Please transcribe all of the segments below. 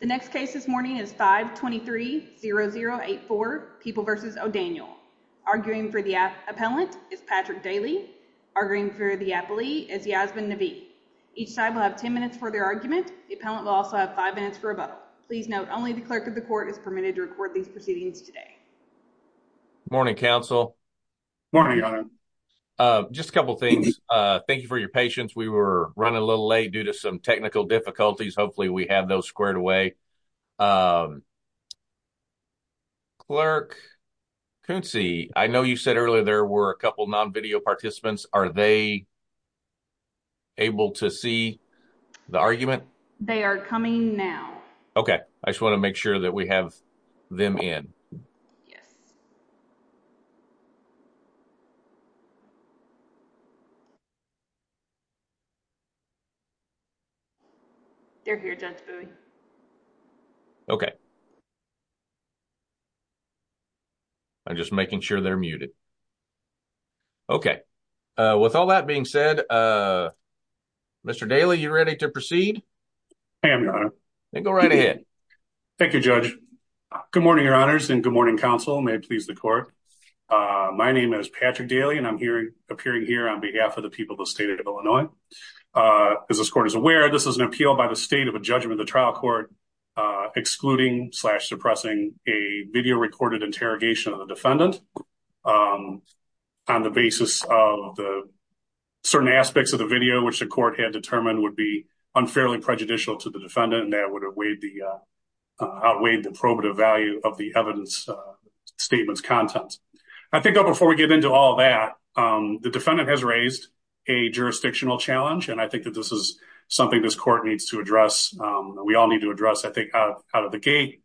The next case this morning is 523-0084, People v. O'Daniel. Arguing for the appellant is Patrick Daly. Arguing for the appellee is Yasmin Navi. Each side will have 10 minutes for their argument. The appellant will also have five minutes for a vote. Please note only the clerk of the court is permitted to record these proceedings today. Morning counsel. Morning. Just a couple things. Thank you for your patience. We were running a little late due to some technical difficulties. Hopefully we have those squared away. Clerk Coonsey, I know you said earlier there were a couple non-video participants. Are they able to see the argument? They are coming now. Okay. I just want to make sure that we have them in. Yes. They're here, Judge Bowie. Okay. I'm just making sure they're muted. Okay. With all that being said, Mr. Daly, you ready to proceed? I am, Your Honor. Then go right ahead. Thank you, Judge. Good morning, Your Honors, and good morning to the court. My name is Patrick Daly and I'm appearing here on behalf of the people of the state of Illinois. As this court is aware, this is an appeal by the state of a judgment of the trial court excluding slash suppressing a video recorded interrogation of the defendant on the basis of the certain aspects of the video which the court had determined would be unfairly prejudicial to the defendant and that would outweigh the probative value of the evidence statement's content. I think before we get into all that, the defendant has raised a jurisdictional challenge and I think that this is something this court needs to address. We all need to address I think out of the gate.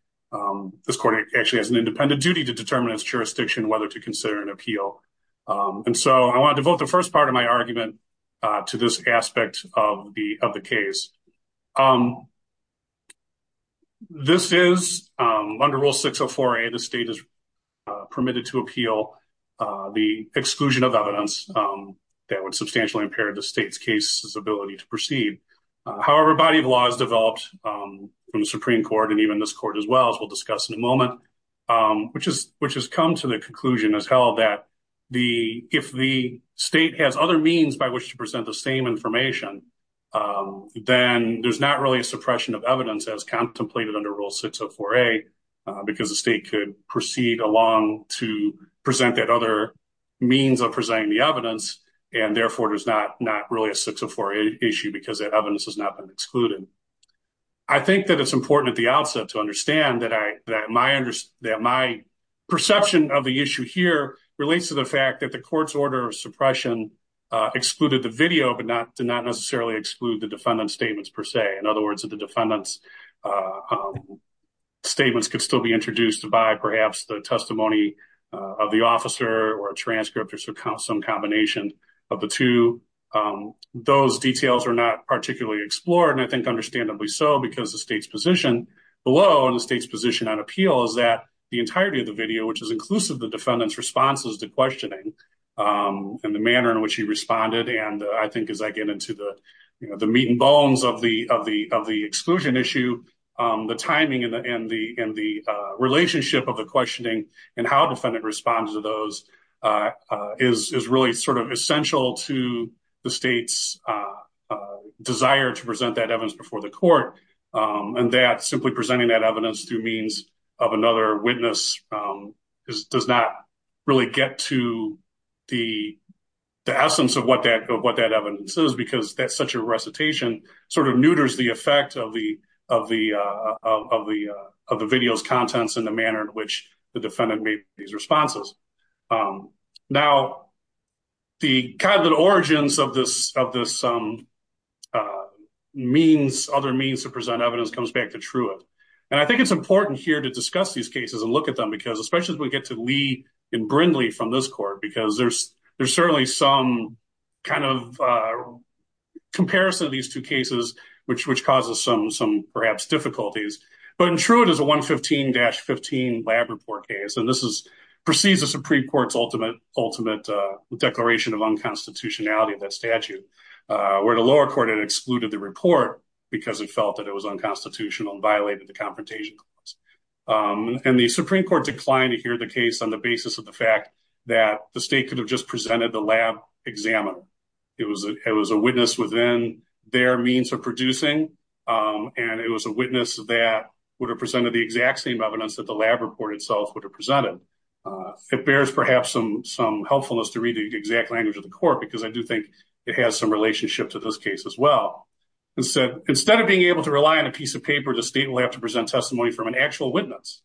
This court actually has an independent duty to determine its jurisdiction whether to consider an appeal. I want to devote the first part of my argument to this aspect of the case. Under Rule 604A, the state is permitted to appeal the exclusion of evidence that would substantially impair the state's case's ability to proceed. However, a body of law has developed from the Supreme Court and even this court as well, as we'll discuss in a moment, which has come to the conclusion, has held that if the state has other means by which to present the same information, then there's not really a suppression of evidence as contemplated under Rule 604A because the state could proceed along to present that other means of presenting the evidence and therefore there's not really a 604 issue because that evidence has not been excluded. I think that it's important at the outset to understand that my perception of the issue here relates to the fact that the court's order of suppression excluded the video but did not necessarily exclude the defendant's statements per se. In other words, the defendant's statements could still be introduced by perhaps the testimony of the officer or a transcript or some combination of the two. Those details are not particularly explored and I think understandably so because the state's position below and the state's position on appeal is that the entirety of the video, which is inclusive of the defendant's responses to questioning and the manner in which he responded and I think as I get into the meat and bones of the exclusion issue, the timing and the relationship of the questioning and how a defendant responds to those is really sort of essential to the state's desire to present that evidence before the court and that simply presenting that evidence through means of another witness does not really get to the essence of what that evidence is because that's such a recitation sort of neuters the effect of the video's contents in the manner in which the defendant made these responses. Now the kind of origins of this other means to present evidence comes back to Truitt and I think it's important here to discuss these cases and look at them because especially as we get to Lee and Brindley from this court because there's certainly some kind of comparison of these two cases which causes some perhaps difficulties but in Truitt is a 115-15 lab report case and this precedes the Supreme Court's ultimate declaration of unconstitutionality of that statute where the lower court had excluded the report because it felt that it was unconstitutional and violated the confrontation clause and the Supreme Court declined to hear the case on the basis of the fact that the state could have just presented the lab examiner. It was a witness within their means of producing and it was a witness that would have presented the exact same evidence that the lab report itself would have presented. It bears perhaps some helpfulness to read the exact language of the court because I do think it has some relationship to this case as well and said instead of being able to rely on a piece of paper the state will have to present testimony from an actual witness.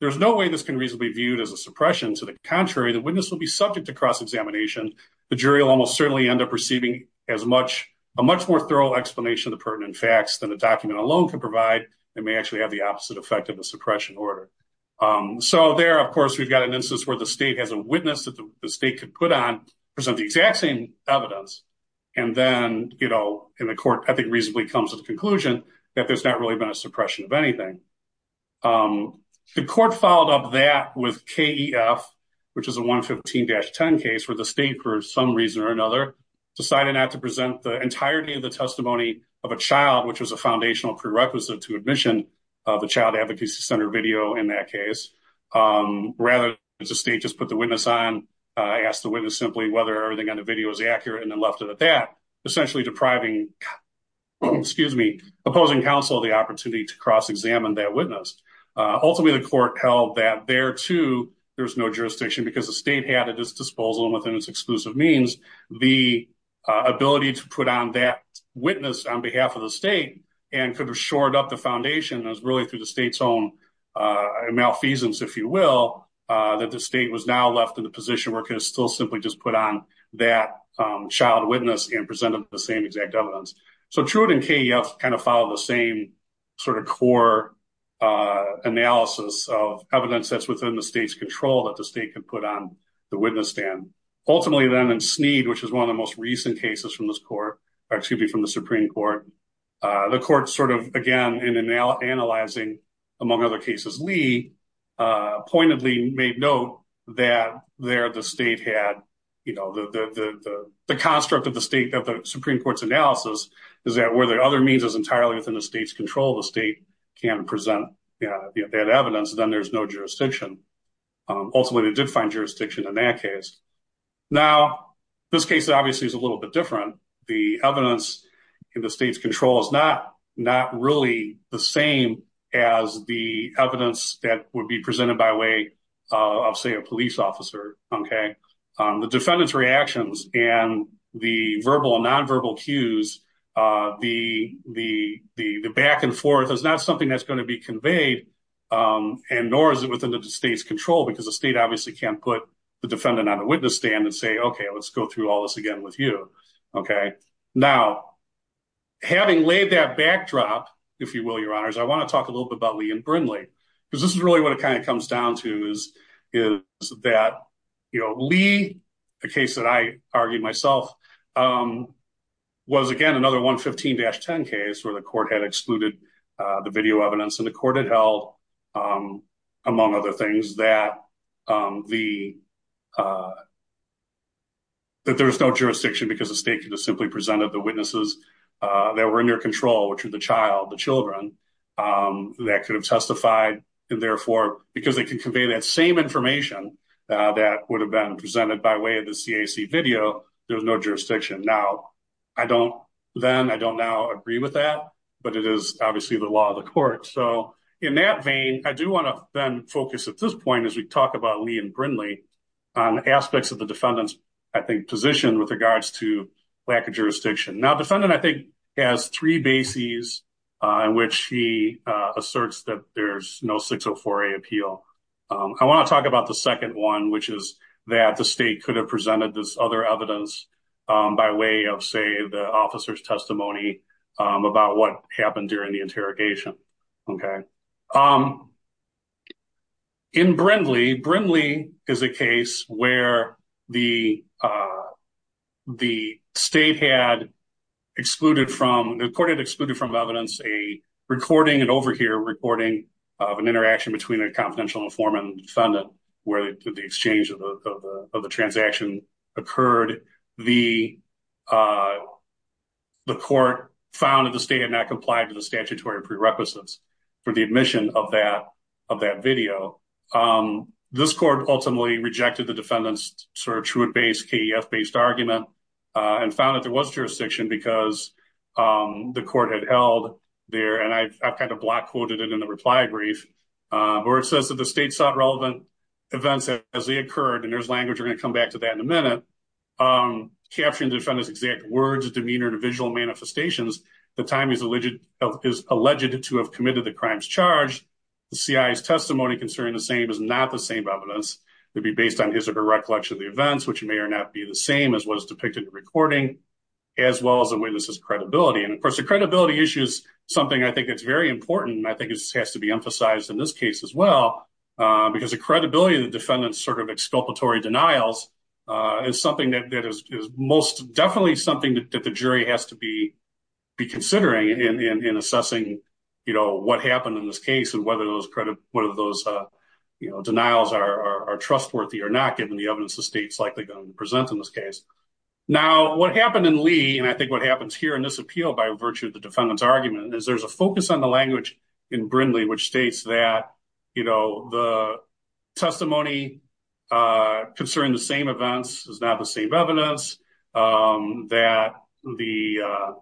There's no way this can reasonably be viewed as a suppression to the contrary the witness will be subject to cross-examination the jury will almost certainly end up receiving as much a much more thorough explanation of the pertinent facts than the document alone can provide and may actually have the opposite effect of a suppression order. So there of course we've got an instance where the state has a witness that the state could put on present the exact same evidence and then you know in the court I think reasonably comes to the conclusion that there's not really been a suppression of anything. The court followed up that with KEF which is a 115-10 case where the state for some reason or another decided not to present the entirety of the testimony of a child which was a foundational prerequisite to admission of the child advocacy center video and that case. Rather the state just put the witness on asked the witness simply whether everything on the video is accurate and then left it at that essentially depriving excuse me opposing counsel the opportunity to cross-examine that witness. Ultimately the court held that there too there's no jurisdiction because the state had at its disposal and within its exclusive means the ability to put on that witness on behalf of the state and could have shored up the foundation is really through the state's own malfeasance if you will that the state was now left in the position where it could still simply just put on that child witness and presented the same exact evidence. So Truett and KEF kind of follow the same sort of core analysis of evidence that's within the state's control that the state can put on the witness stand. Ultimately then in Sneed which is one of the most recent cases from this court or excuse me from the Supreme Court the court sort of again in analyzing among other cases Lee pointedly made note that there the state had you know the the the construct of the state that the Supreme Court's analysis is that where the other means is entirely within the state's control the state can present that evidence then there's no jurisdiction. Ultimately they did find jurisdiction in that case. Now this case obviously is a little bit different. The evidence in the state's control is not not really the same as the evidence that would be presented by way of say a police officer okay. The defendant's reactions and the verbal and non-verbal cues the back and forth is not something that's going to be conveyed and nor is it within the state's control because the state obviously can't put the defendant on a witness stand and say okay let's go through all this again with you okay. Now having laid that backdrop if you will your honors I want to talk a little bit about Lee and Brindley because this is really what it kind of comes down to is is that you know Lee the case that I argued myself was again another 115-10 case where the court had excluded the video evidence and the court had held among other things that that there's no jurisdiction because the state could have simply presented the witnesses that were under control which are the child the children that could have testified and therefore because they can convey that same information that would have been presented by way of the CAC video there was no jurisdiction. Now I don't then I don't now agree with that but it is obviously the law of the court so in that vein I do want to then focus at this point as we talk about Lee and Brindley on aspects of the defendant's I think position with regards to lack of jurisdiction. Now defendant I think has three bases on which he asserts that there's no 604a appeal. I want to talk about the second one which is that the state could have presented this other evidence by way of say the officer's testimony about what happened during the interrogation okay. In Brindley, Brindley is a case where the the state had excluded from the court had excluded from evidence a recording and over here recording of an interaction between a confidential informant and defendant where the exchange of the transaction occurred the the court found that the state had not complied to the statutory prerequisites for the admission of that of that video. This court ultimately rejected the defendant's sort of Truett-based KEF-based argument and found that there was jurisdiction because the court had held there and I've kind of block quoted it in the reply brief where it says that the state sought relevant events as they occurred and there's language we're going to come back to that in a minute. Capturing the defendant's exact words, demeanor, and visual manifestations the time is alleged to have committed the crime's charge. The CI's testimony concerning the same is not the same evidence to be based on his or her recollection of the events which may or not be the same as what is depicted in the recording as well as the witness's credibility and of course the credibility issue is something I think that's very important I think it has to be emphasized in this case as well because the credibility of the exculpatory denials is something that is most definitely something that the jury has to be be considering in assessing you know what happened in this case and whether those credit one of those you know denials are trustworthy or not given the evidence the state's likely going to present in this case. Now what happened in Lee and I think what happens here in this appeal by virtue of the defendant's argument is there's a focus on the language in Brindley which states that you know the testimony uh concerning the same events is not the same evidence um that the uh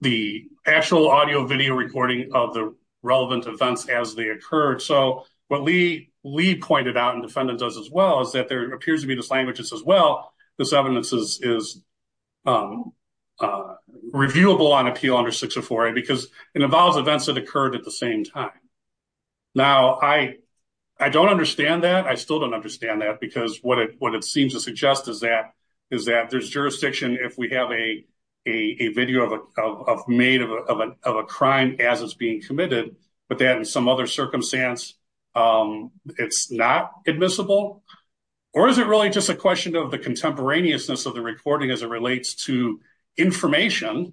the actual audio video recording of the relevant events as they occurred so what Lee Lee pointed out and defendant does as well is that there appears to be this language that says well this evidence is is um uh reviewable on appeal under 604a because it involves events that occurred at the same time now I I don't understand that I still don't understand that because what it what it seems to suggest is that is that there's jurisdiction if we have a a video of a of made of a of a crime as it's being committed but then in some other circumstance um it's not admissible or is it really just a question of the contemporaneousness of the recording as it relates to information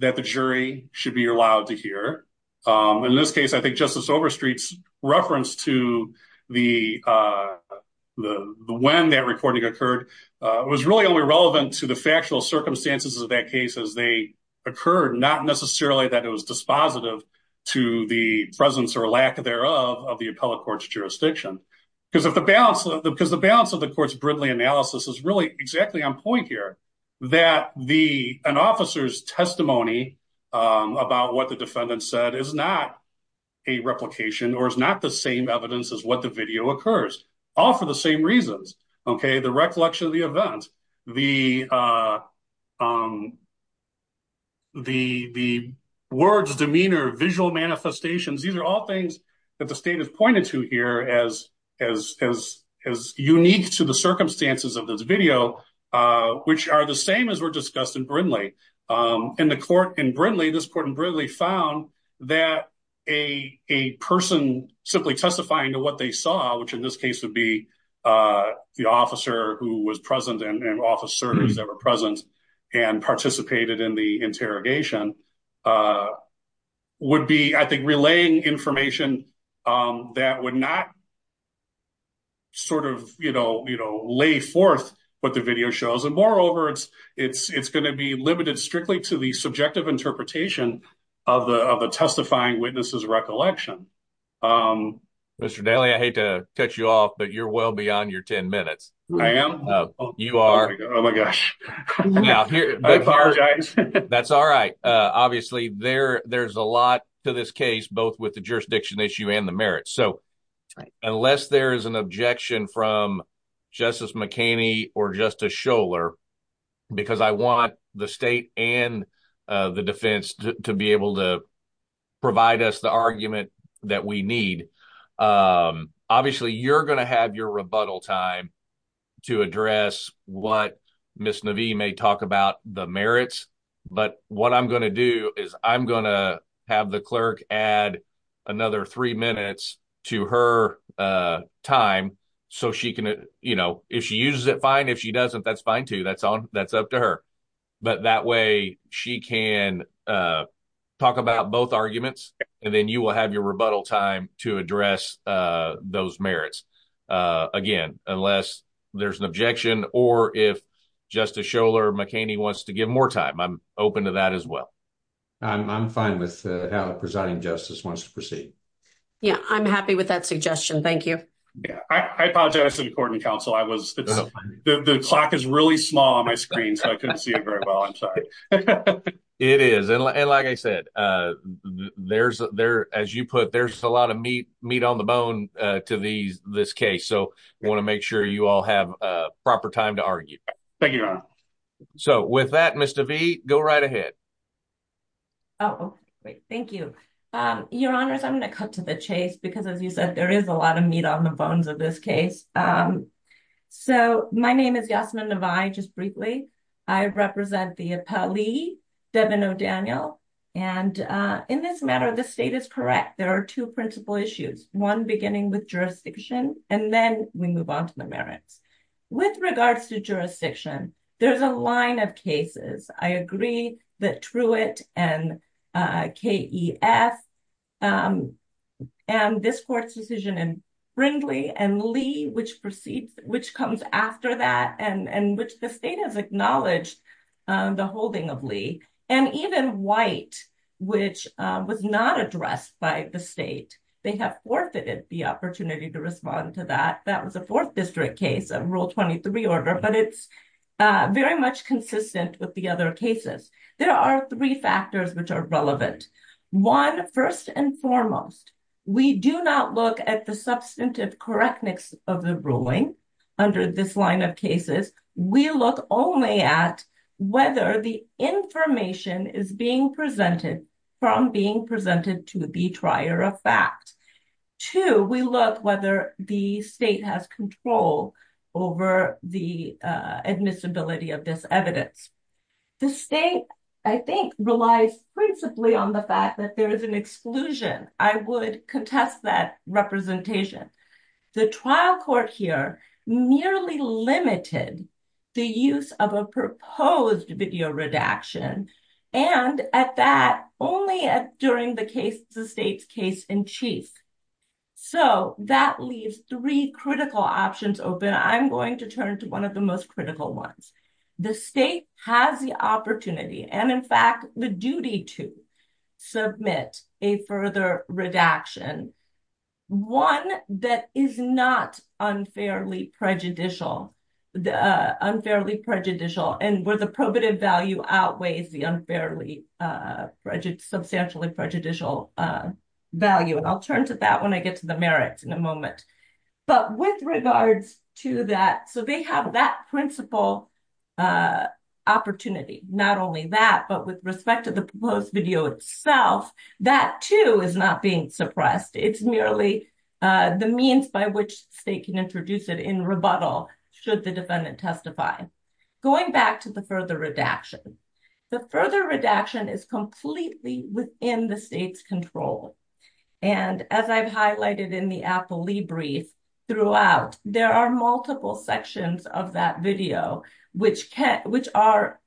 that the jury should be allowed to hear um in this case I think Justice Overstreet's reference to the uh the when that recording occurred was really only relevant to the factual circumstances of that case as they occurred not necessarily that it was dispositive to the presence or lack thereof of the appellate court's jurisdiction because if the balance because the balance of the court's Brindley analysis is really exactly on point here that the an officer's testimony about what the defendant said is not a replication or is not the same evidence as what the video occurs all for the same reasons okay the recollection of the event the uh um the the words demeanor visual manifestations these are all things that the state has pointed to here as as as unique to the circumstances of this video uh which are the same as were discussed in Brindley um in the court in Brindley this court in Brindley found that a a person simply testifying to what they saw which in this case would be uh the officer who was present and officers that were present and participated in the interrogation uh would be I think relaying information um that would not sort of you know you know lay forth what the video shows and moreover it's it's it's going to be limited strictly to the subjective interpretation of the of the testifying witness's recollection um Mr. Daly I hate to cut you off but you're well beyond your 10 minutes I am you are oh my gosh now here I apologize that's all right uh obviously there there's a lot to this case both with the jurisdiction issue and the merits so unless there is an objection from Justice McHaney or Justice Schoeller because I want the state and uh the defense to be able to provide us the argument that we need um obviously you're going to have your rebuttal time to address what Ms. Navi may talk about the merits but what I'm going to do is I'm going to have the clerk add another three minutes to her uh time so she can you know if she uses it fine if she doesn't that's fine too that's on that's up to her but that way she can uh talk about both arguments and then you will have your rebuttal time to address uh those merits uh again unless there's an objection or if Justice Schoeller McHaney wants to give more time I'm open to that as well I'm I'm fine with how the presiding justice wants to proceed yeah I'm happy with that suggestion thank you yeah I apologize in court and counsel I was the clock is really small on my screen so I couldn't see it very well I'm sorry it is and like I said uh there's there as you put there's a lot of meat meat on the bone uh to these this case so I want to make sure you all have a proper time to argue thank you so with that Mr. V go right ahead oh great thank you um your honors I'm going to cut to the chase because as you said there is a lot of meat on the bones of this case um so my name is Yasmin Navai just briefly I represent the appellee Devin O'Daniel and uh in this matter the state is correct there are two principal issues one beginning with jurisdiction and then we move on to the merits with regards to jurisdiction there's a line of cases I agree that Truett and KEF um and this court's decision in Brindley and Lee which proceeds which comes after that and and which the state has acknowledged the holding of Lee and even White which was not addressed by the state they have forfeited the opportunity to respond to that that was a fourth district case of rule 23 order but it's uh very much consistent with the other cases there are three factors which are relevant one first and foremost we do not look at the substantive correctness of the ruling under this line of cases we look only at whether the information is being presented from being presented to the trier of fact two we look whether the state has control over the uh admissibility of this evidence the state I think relies principally on the fact that there is an exclusion I would contest that representation the trial court here merely limited the use of a proposed video redaction and at that only at during the case the case in chief so that leaves three critical options open I'm going to turn to one of the most critical ones the state has the opportunity and in fact the duty to submit a further redaction one that is not unfairly prejudicial the uh unfairly prejudicial and where the probative value outweighs the unfairly uh prejudice substantially prejudicial value and I'll turn to that when I get to the merits in a moment but with regards to that so they have that principal uh opportunity not only that but with respect to the proposed video itself that too is not being suppressed it's merely the means by which state can introduce it in rebuttal should the defendant testify going back to the further redaction the further redaction is completely within the state's control and as I've highlighted in the appellee brief throughout there are multiple sections of that video which can which are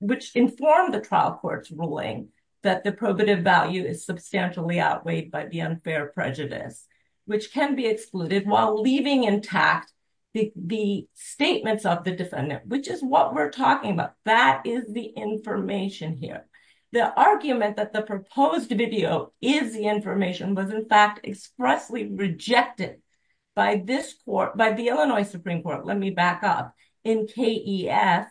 which inform the trial court's ruling that the probative value is substantially outweighed by the unfair prejudice which can be excluded while leaving intact the statements of the defendant which is what we're talking about that is the information here the argument that the proposed video is the information was in fact expressly rejected by this court by the Illinois Supreme Court let me back up in KEF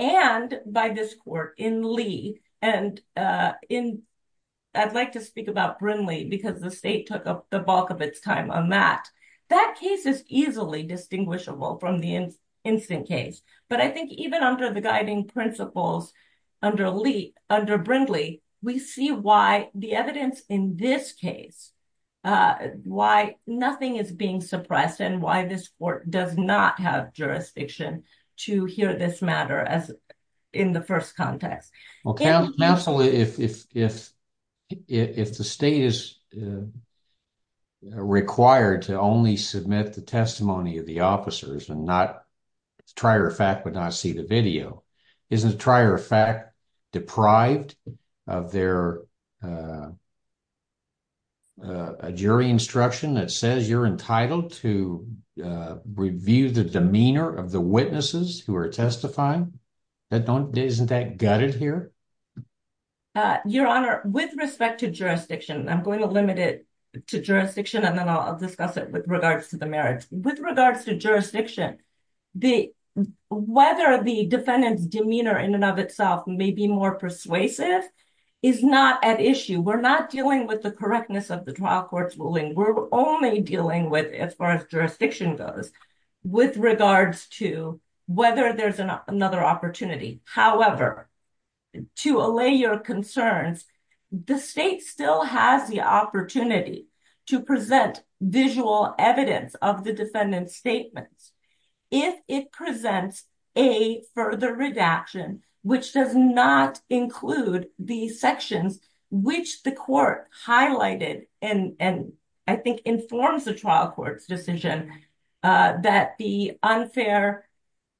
and by this court in Lee and uh in I'd like to speak about Brindley because the state took up the bulk of its time on that that case is easily distinguishable from the instant case but I think even under the guiding principles under Lee under Brindley we see why the evidence in this case why nothing is being suppressed and why this court does not have jurisdiction to hear this matter as in the first context well counsel if if if if the state is required to only submit the testimony of the officers and not trier of fact would not see the video isn't trier of fact deprived of their a jury instruction that says you're entitled to review the demeanor of the witnesses who are testifying that don't isn't that gutted here uh your honor with respect to jurisdiction I'm going to limit it to jurisdiction and then I'll discuss it with regards to with regards to jurisdiction the whether the defendant's demeanor in and of itself may be more persuasive is not at issue we're not dealing with the correctness of the trial court's ruling we're only dealing with as far as jurisdiction goes with regards to whether there's another opportunity however to allay your concerns the state still has the opportunity to present visual evidence of the defendant's statements if it presents a further redaction which does not include the sections which the court highlighted and and I think informs the trial court's decision that the unfair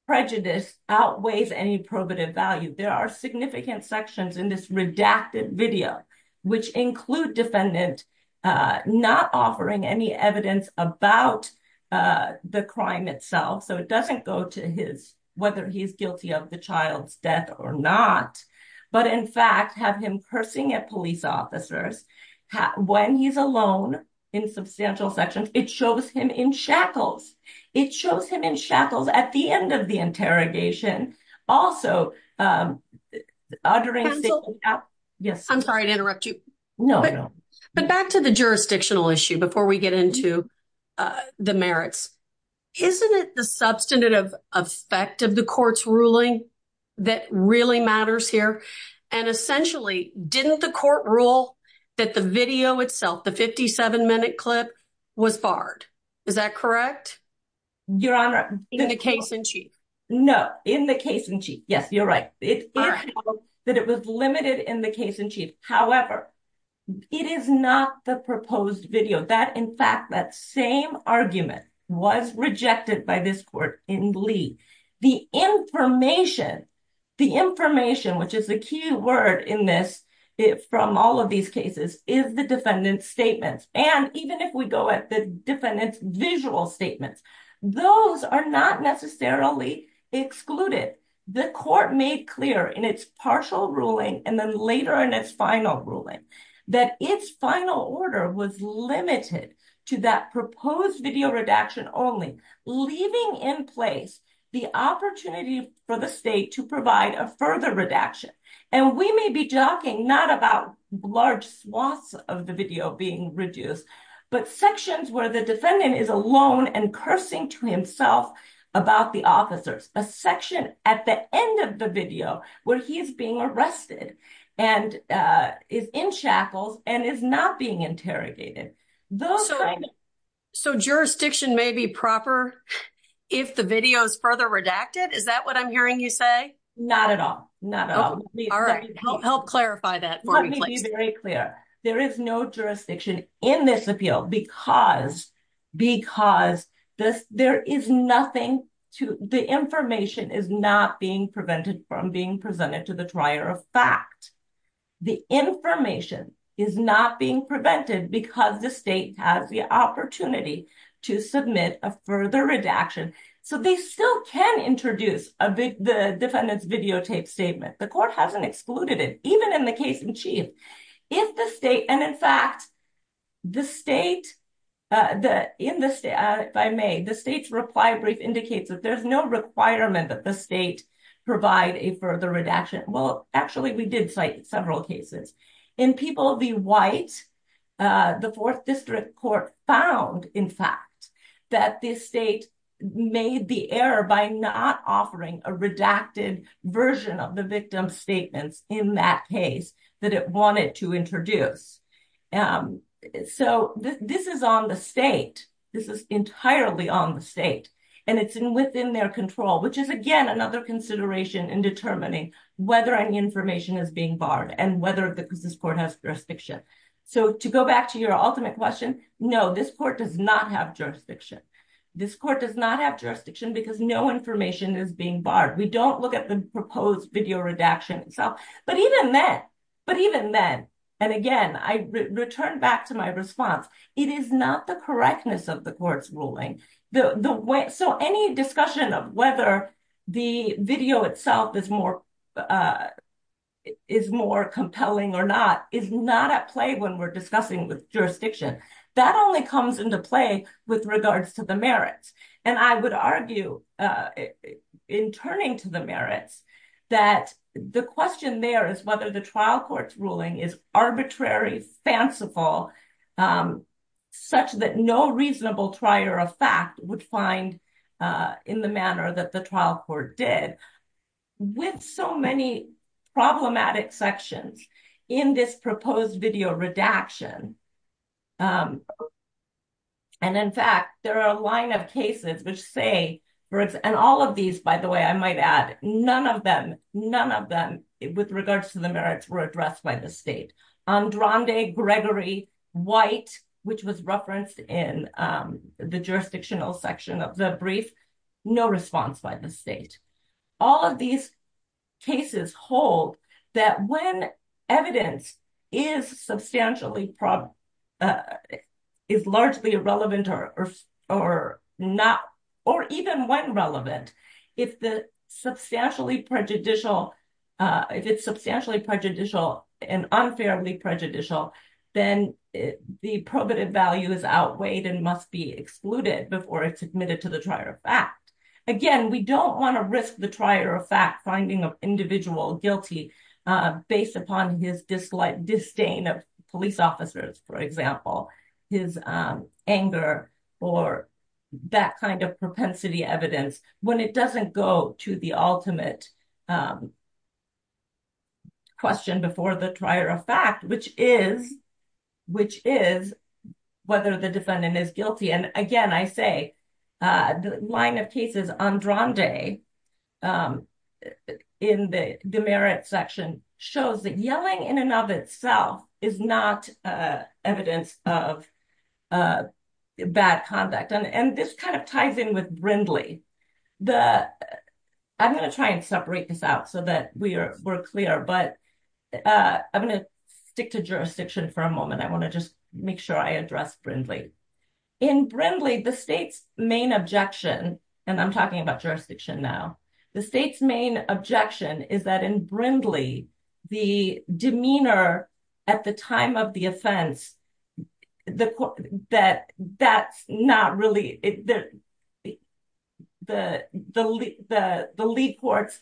prejudice outweighs any probative value there are significant sections in this redacted video which include defendant not offering any evidence about the crime itself so it doesn't go to his whether he's guilty of the child's death or not but in fact have him cursing at police officers when he's alone in substantial sections it shows him in shackles it shows him in shackles at the end of the interrogation also um yes I'm sorry to interrupt you no but back to the jurisdictional issue before we get into uh the merits isn't it the substantive effect of the court's ruling that really matters here and essentially didn't the court rule that the video itself the 57 minute clip was barred is that correct your honor in the case in chief no in the case in chief yes you're right it is that it was limited in the case in chief however it is not the proposed video that in fact that same argument was rejected by this court in lee the information the information which is the key word in this from all of these cases is the defendant's statements and even if we go at the defendant's visual statements those are not necessarily excluded the court made clear in its partial ruling and then later in its final ruling that its final order was limited to that proposed video redaction only leaving in place the opportunity for the state to provide a further redaction and we may be talking not about large swaths of the video being reduced but sections where the defendant is alone and cursing to himself about the officers a section at the end of the video where he is being arrested and uh is in shackles and is not being interrogated those so so jurisdiction may be proper if the video is further redacted is that what i'm hearing you say not at all all right help clarify that let me be very clear there is no jurisdiction in this appeal because because this there is nothing to the information is not being prevented from being presented to the trier of fact the information is not being prevented because the state has the opportunity to submit a further redaction so they still can introduce a big the defendant's videotape statement the court hasn't excluded it even in the case in chief if the state and in fact the state uh the in the state by may the state's reply brief indicates that there's no requirement that the state provide a further redaction well actually we did cite several cases in people of the white uh the fourth district court found in fact that this state made the error by not offering a redacted version of the victim's statements in that case that it wanted to introduce um so this is on the state this is entirely on the state and it's within their control which is again another consideration in determining whether any information is being barred and whether the business court has jurisdiction so to go back to your ultimate question no this court does not have jurisdiction this court does not have jurisdiction because no information is being barred we don't look at the proposed video redaction itself but even then but even then and again i return back to my response it is not the correctness of the court's ruling the the way so any discussion of whether the video itself is more uh is more compelling or not is not at play when we're discussing with jurisdiction that only comes into play with regards to the merits and i would argue uh in turning to the merits that the question there whether the trial court's ruling is arbitrary fanciful um such that no reasonable trier of fact would find uh in the manner that the trial court did with so many problematic sections in this proposed video redaction um and in fact there are a line of cases which say and all of these by the way i might add none of them none of them with regards to the merits were addressed by the state um drondae gregory white which was referenced in um the jurisdictional section of the brief no response by the state all of these cases hold that when evidence is substantially prob is largely irrelevant or or not or even when relevant if the substantially prejudicial uh if it's substantially prejudicial and unfairly prejudicial then the probative value is outweighed and must be excluded before it's admitted to the trier of fact again we don't want to risk the trier of fact finding of individual guilty uh based upon his dislike disdain of police officers for example his um anger or that kind of propensity evidence when it doesn't go to the ultimate um question before the trier of fact which is which is whether the defendant is guilty and again i say uh the line of cases on drondae um in the the merit section shows that yelling in and of itself is not uh evidence of uh bad conduct and this kind of ties in with brindley the i'm going to try and separate this out so that we are we're clear but uh i'm going to stick to for a moment i want to just make sure i address brindley in brindley the state's main objection and i'm talking about jurisdiction now the state's main objection is that in brindley the demeanor at the time of the offense the court that that's not really it there the the the the league court's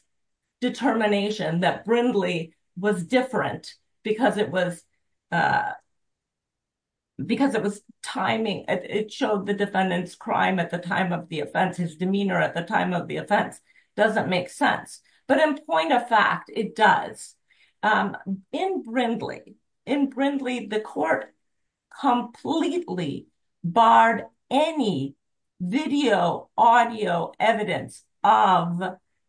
determination that brindley was different because it was uh because it was timing it showed the defendant's crime at the time of the offense his demeanor at the time of the offense doesn't make sense but in point of fact it does um in brindley in brindley the court completely barred any video audio evidence of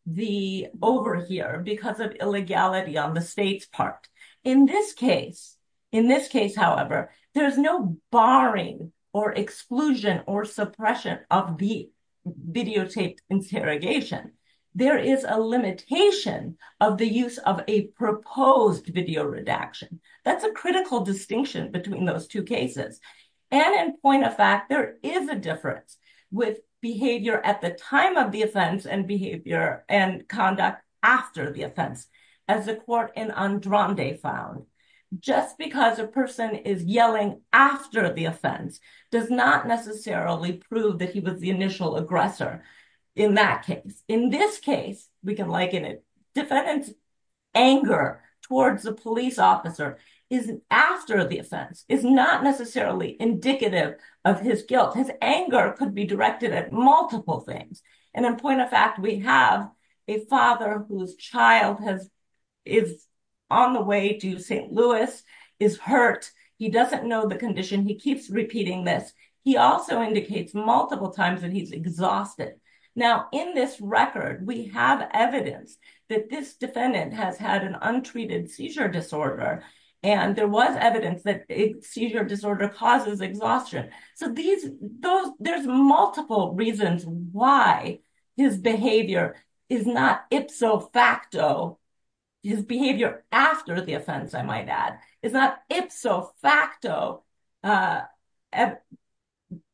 the over here because of illegality on the state's part in this case in this case however there is no barring or exclusion or suppression of the videotaped interrogation there is a limitation of the use of a proposed video redaction that's a critical distinction between those two cases and in point of fact there is a difference with behavior at the time of the offense and behavior and conduct after the offense as the court in andrande found just because a person is yelling after the offense does not necessarily prove that he was the initial aggressor in that case in this case we can liken it defendant's anger towards the police officer is after the offense is not necessarily indicative of his guilt his anger could be directed at multiple things and in point of fact we have a father whose child has is on the way to st louis is hurt he doesn't know the condition he keeps repeating this he also indicates multiple times that he's exhausted now in this record we have evidence that this defendant has had an untreated seizure disorder and there was evidence that a seizure disorder causes exhaustion so these those there's multiple reasons why his behavior is not ipso facto his behavior after the offense i might add is not ipso facto uh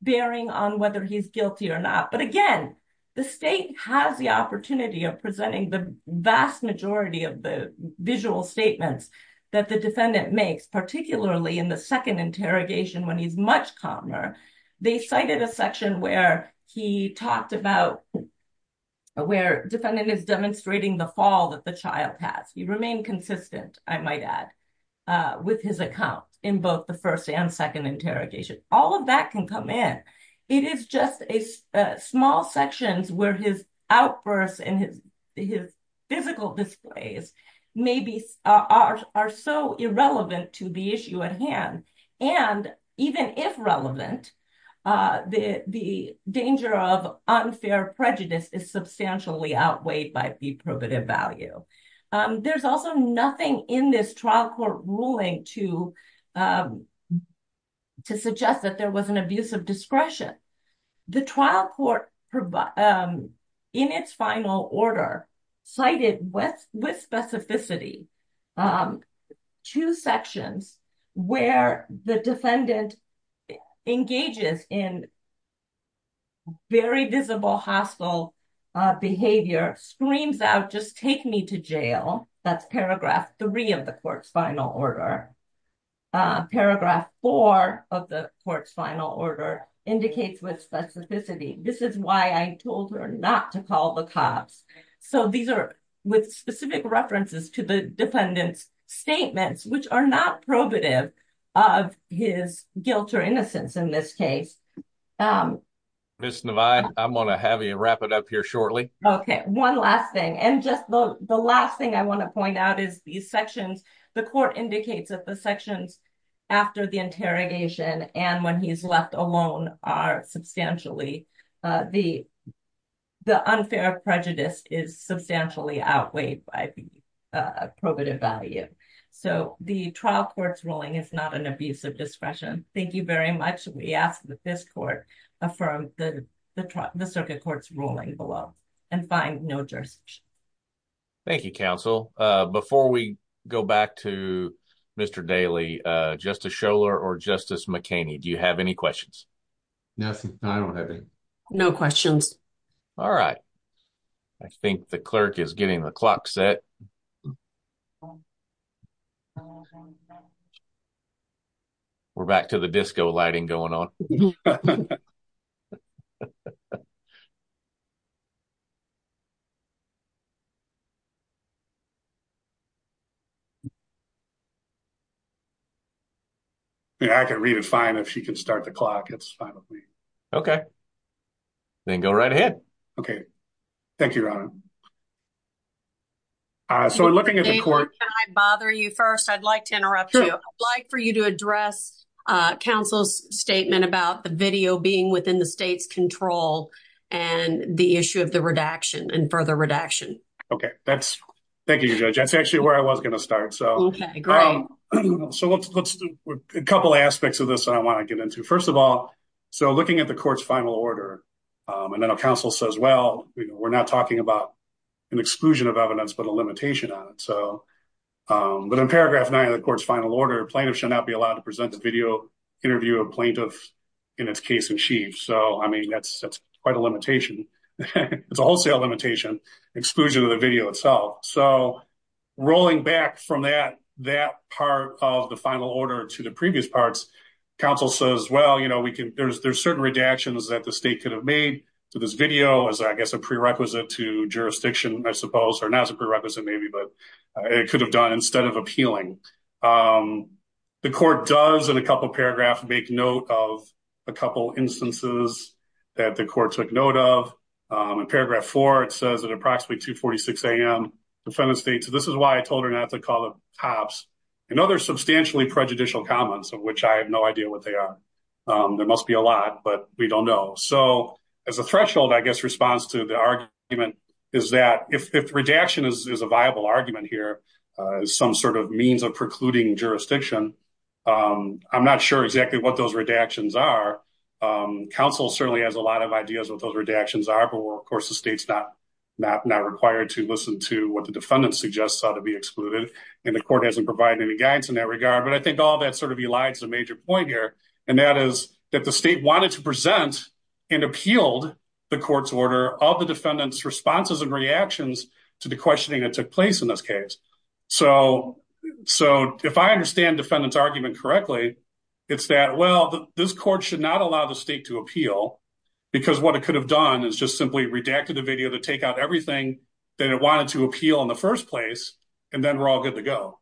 bearing on whether he's guilty or not but again the state has the opportunity of presenting the vast majority of the visual statements that the defendant makes particularly in the second interrogation when he's much calmer they cited a section where he talked about where defendant is demonstrating the fall that the child has he remained consistent i might add uh with his account in both the first and second interrogation all of that can come in it is just a small sections where his outbursts and his his physical displays maybe are so irrelevant to the issue at hand and even if relevant uh the the danger of unfair prejudice is substantially outweighed by the probative value um there's also nothing in this trial court ruling to um to suggest that there was an abuse of discretion the trial court in its final order cited with with specificity um two sections where the defendant engages in very visible hostile behavior screams out just take me to jail that's paragraph three of the court's final order paragraph four of the court's final order indicates with specificity this is why i told her not to call the cops so these are with specific references to the defendant's statements which are not probative of his guilt or innocence in this case um miss nevine i'm going to have you wrap it up here shortly okay one last thing and just the last thing i want to point out is these sections the court indicates that the sections after the interrogation and when he's left alone are substantially uh the the unfair prejudice is substantially outweighed by the probative value so the trial court's ruling is not an abuse of discretion thank you very much we ask that this court affirm the the circuit court's ruling below and find no jurisdiction thank you counsel uh before we go back to mr daly uh justice scholar or justice mckinney do you have any questions nothing i don't have any no questions all right i think the clerk is getting the clock set we're back to the disco lighting going on yeah i can read it fine if she can start the clock it's fine with me okay then go right ahead okay thank you ron uh so i'm looking at the court can i bother you first i'd like to interrupt you i'd like for you to address uh counsel's statement about the video being within the state's control and the issue of the redaction and further redaction okay that's thank you judge that's actually where i was going to start so okay great so let's let's do a couple aspects of this i want to get into first of all so looking at the court's final order um and then a council says well we're not talking about an exclusion of evidence but a limitation on it so um but in paragraph nine of the court's final order plaintiff shall not be allowed to present the video interview a plaintiff in its case in chief so i mean that's that's quite a limitation it's a wholesale limitation exclusion of the video itself so rolling back from that that part of the final order to the previous parts council says well you know we can there's there's certain redactions that the state could have made to this video as i guess a prerequisite to jurisdiction i suppose or not as a prerequisite maybe but it could have done instead of appealing um the court does in a couple paragraphs make note of a couple instances that the court took note of um in paragraph four it says at approximately 246 a.m defendant states this is why i told her not to call the tops and other substantially prejudicial comments of which i have no idea what they are um there must be a lot but we don't know so as a threshold i guess response to the argument is that if redaction is a viable argument here some sort of means of precluding jurisdiction um i'm not sure exactly what those redactions are council certainly has a lot of ideas what those redactions are but of course the state's not not not required to listen to what the defendant suggests ought to be excluded and the court hasn't provided any guidance in that regard but i think all that sort of elides a major point here and that is that the state wanted to present and appealed the court's order of the defendant's responses and reactions to the questioning that took place in this case so so if i understand defendant's argument correctly it's that well this court should not allow the state to appeal because what it could have done is just simply redacted the everything that it wanted to appeal in the first place and then we're all good to go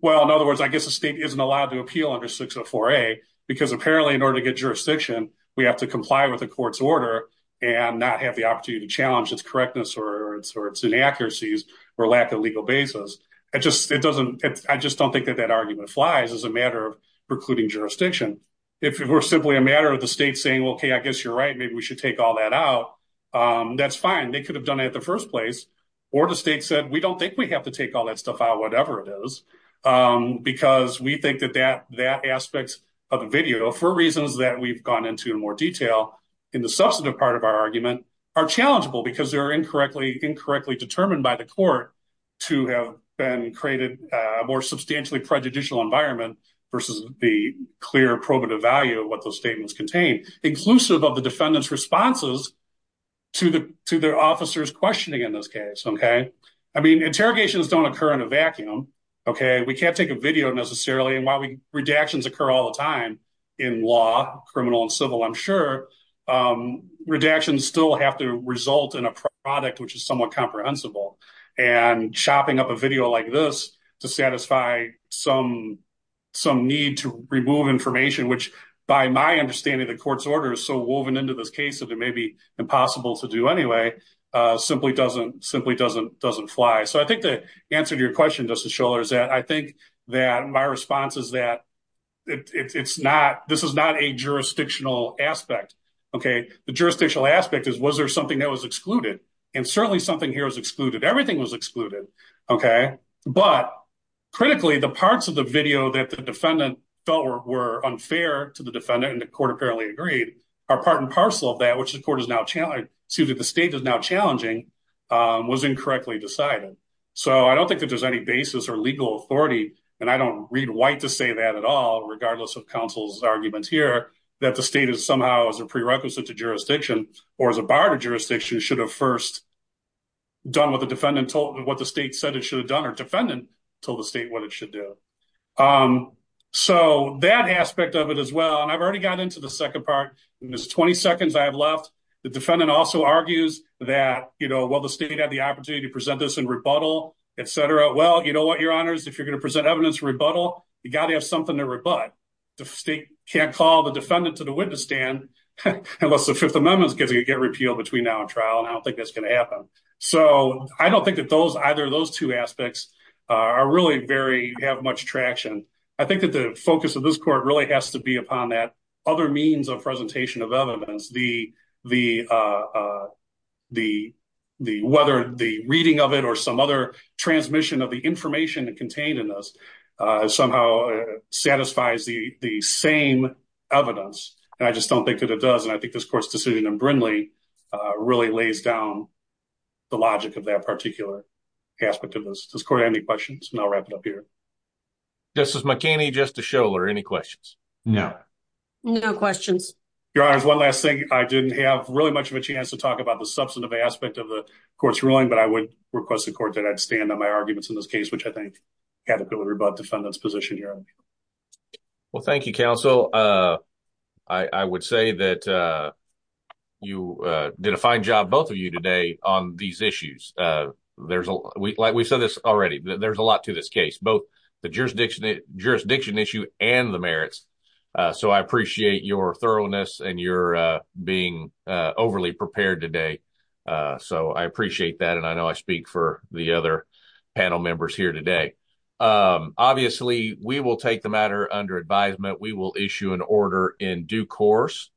well in other words i guess the state isn't allowed to appeal under 604a because apparently in order to get jurisdiction we have to comply with the court's order and not have the opportunity to challenge its correctness or its inaccuracies or lack of legal basis it just it doesn't it i just don't think that that argument flies as a matter of precluding jurisdiction if it were simply a matter of the state saying okay i guess you're right maybe we should take all that out um that's fine they could have done it in the first place or the state said we don't think we have to take all that stuff out whatever it is um because we think that that that aspect of the video for reasons that we've gone into in more detail in the substantive part of our argument are challengeable because they're incorrectly incorrectly determined by the court to have been created a more substantially prejudicial environment versus the clear probative value what those statements contain inclusive of the defendant's responses to the to their officers questioning in this case okay i mean interrogations don't occur in a vacuum okay we can't take a video necessarily and while we redactions occur all the time in law criminal and civil i'm sure um redactions still have to result in a product which is somewhat comprehensible and chopping up a video like this to satisfy some some need to remove information which by my understanding the court's order is so woven into this case that it may be impossible to do anyway uh simply doesn't simply doesn't doesn't fly so i think the answer to your question doesn't show is that i think that my response is that it's not this is not a jurisdictional aspect okay the jurisdictional aspect is was there something that was excluded and certainly something here is excluded everything was excluded okay but critically the parts of the video that the defendant felt were unfair to the defendant and the court apparently agreed are part and parcel of that which the court is now challenging excuse me the state is now challenging um was incorrectly decided so i don't think that there's any basis or legal authority and i don't read white to say that at all regardless of counsel's arguments here that the state is somehow as a prerequisite to or as a bar to jurisdiction should have first done what the defendant told what the state said it should have done or defendant told the state what it should do um so that aspect of it as well and i've already got into the second part in this 20 seconds i have left the defendant also argues that you know while the state had the opportunity to present this in rebuttal etc well you know what your honors if you're going to present evidence rebuttal you got to something to rebut the state can't call the defendant to the witness stand unless the fifth amendment gets you get repealed between now and trial and i don't think that's going to happen so i don't think that those either of those two aspects uh are really very have much traction i think that the focus of this court really has to be upon that other means of presentation of evidence the the uh uh the the whether the reading of it or some other transmission of information contained in this uh somehow satisfies the the same evidence and i just don't think that it does and i think this court's decision in brindley uh really lays down the logic of that particular aspect of this does court have any questions and i'll wrap it up here justice mckinney just to show or any questions no no questions your honor one last thing i didn't have really much of a chance to talk about the substantive aspect of the court's ruling but i request the court that i'd stand on my arguments in this case which i think had a pillar about defendant's position here well thank you counsel uh i i would say that uh you uh did a fine job both of you today on these issues uh there's a like we said this already there's a lot to this case both the jurisdiction jurisdiction issue and the merits uh so i appreciate your thoroughness and your uh being uh overly prepared today uh so i appreciate that and i know i speak for the other panel members here today um obviously we will take the matter under advisement we will issue an order in due course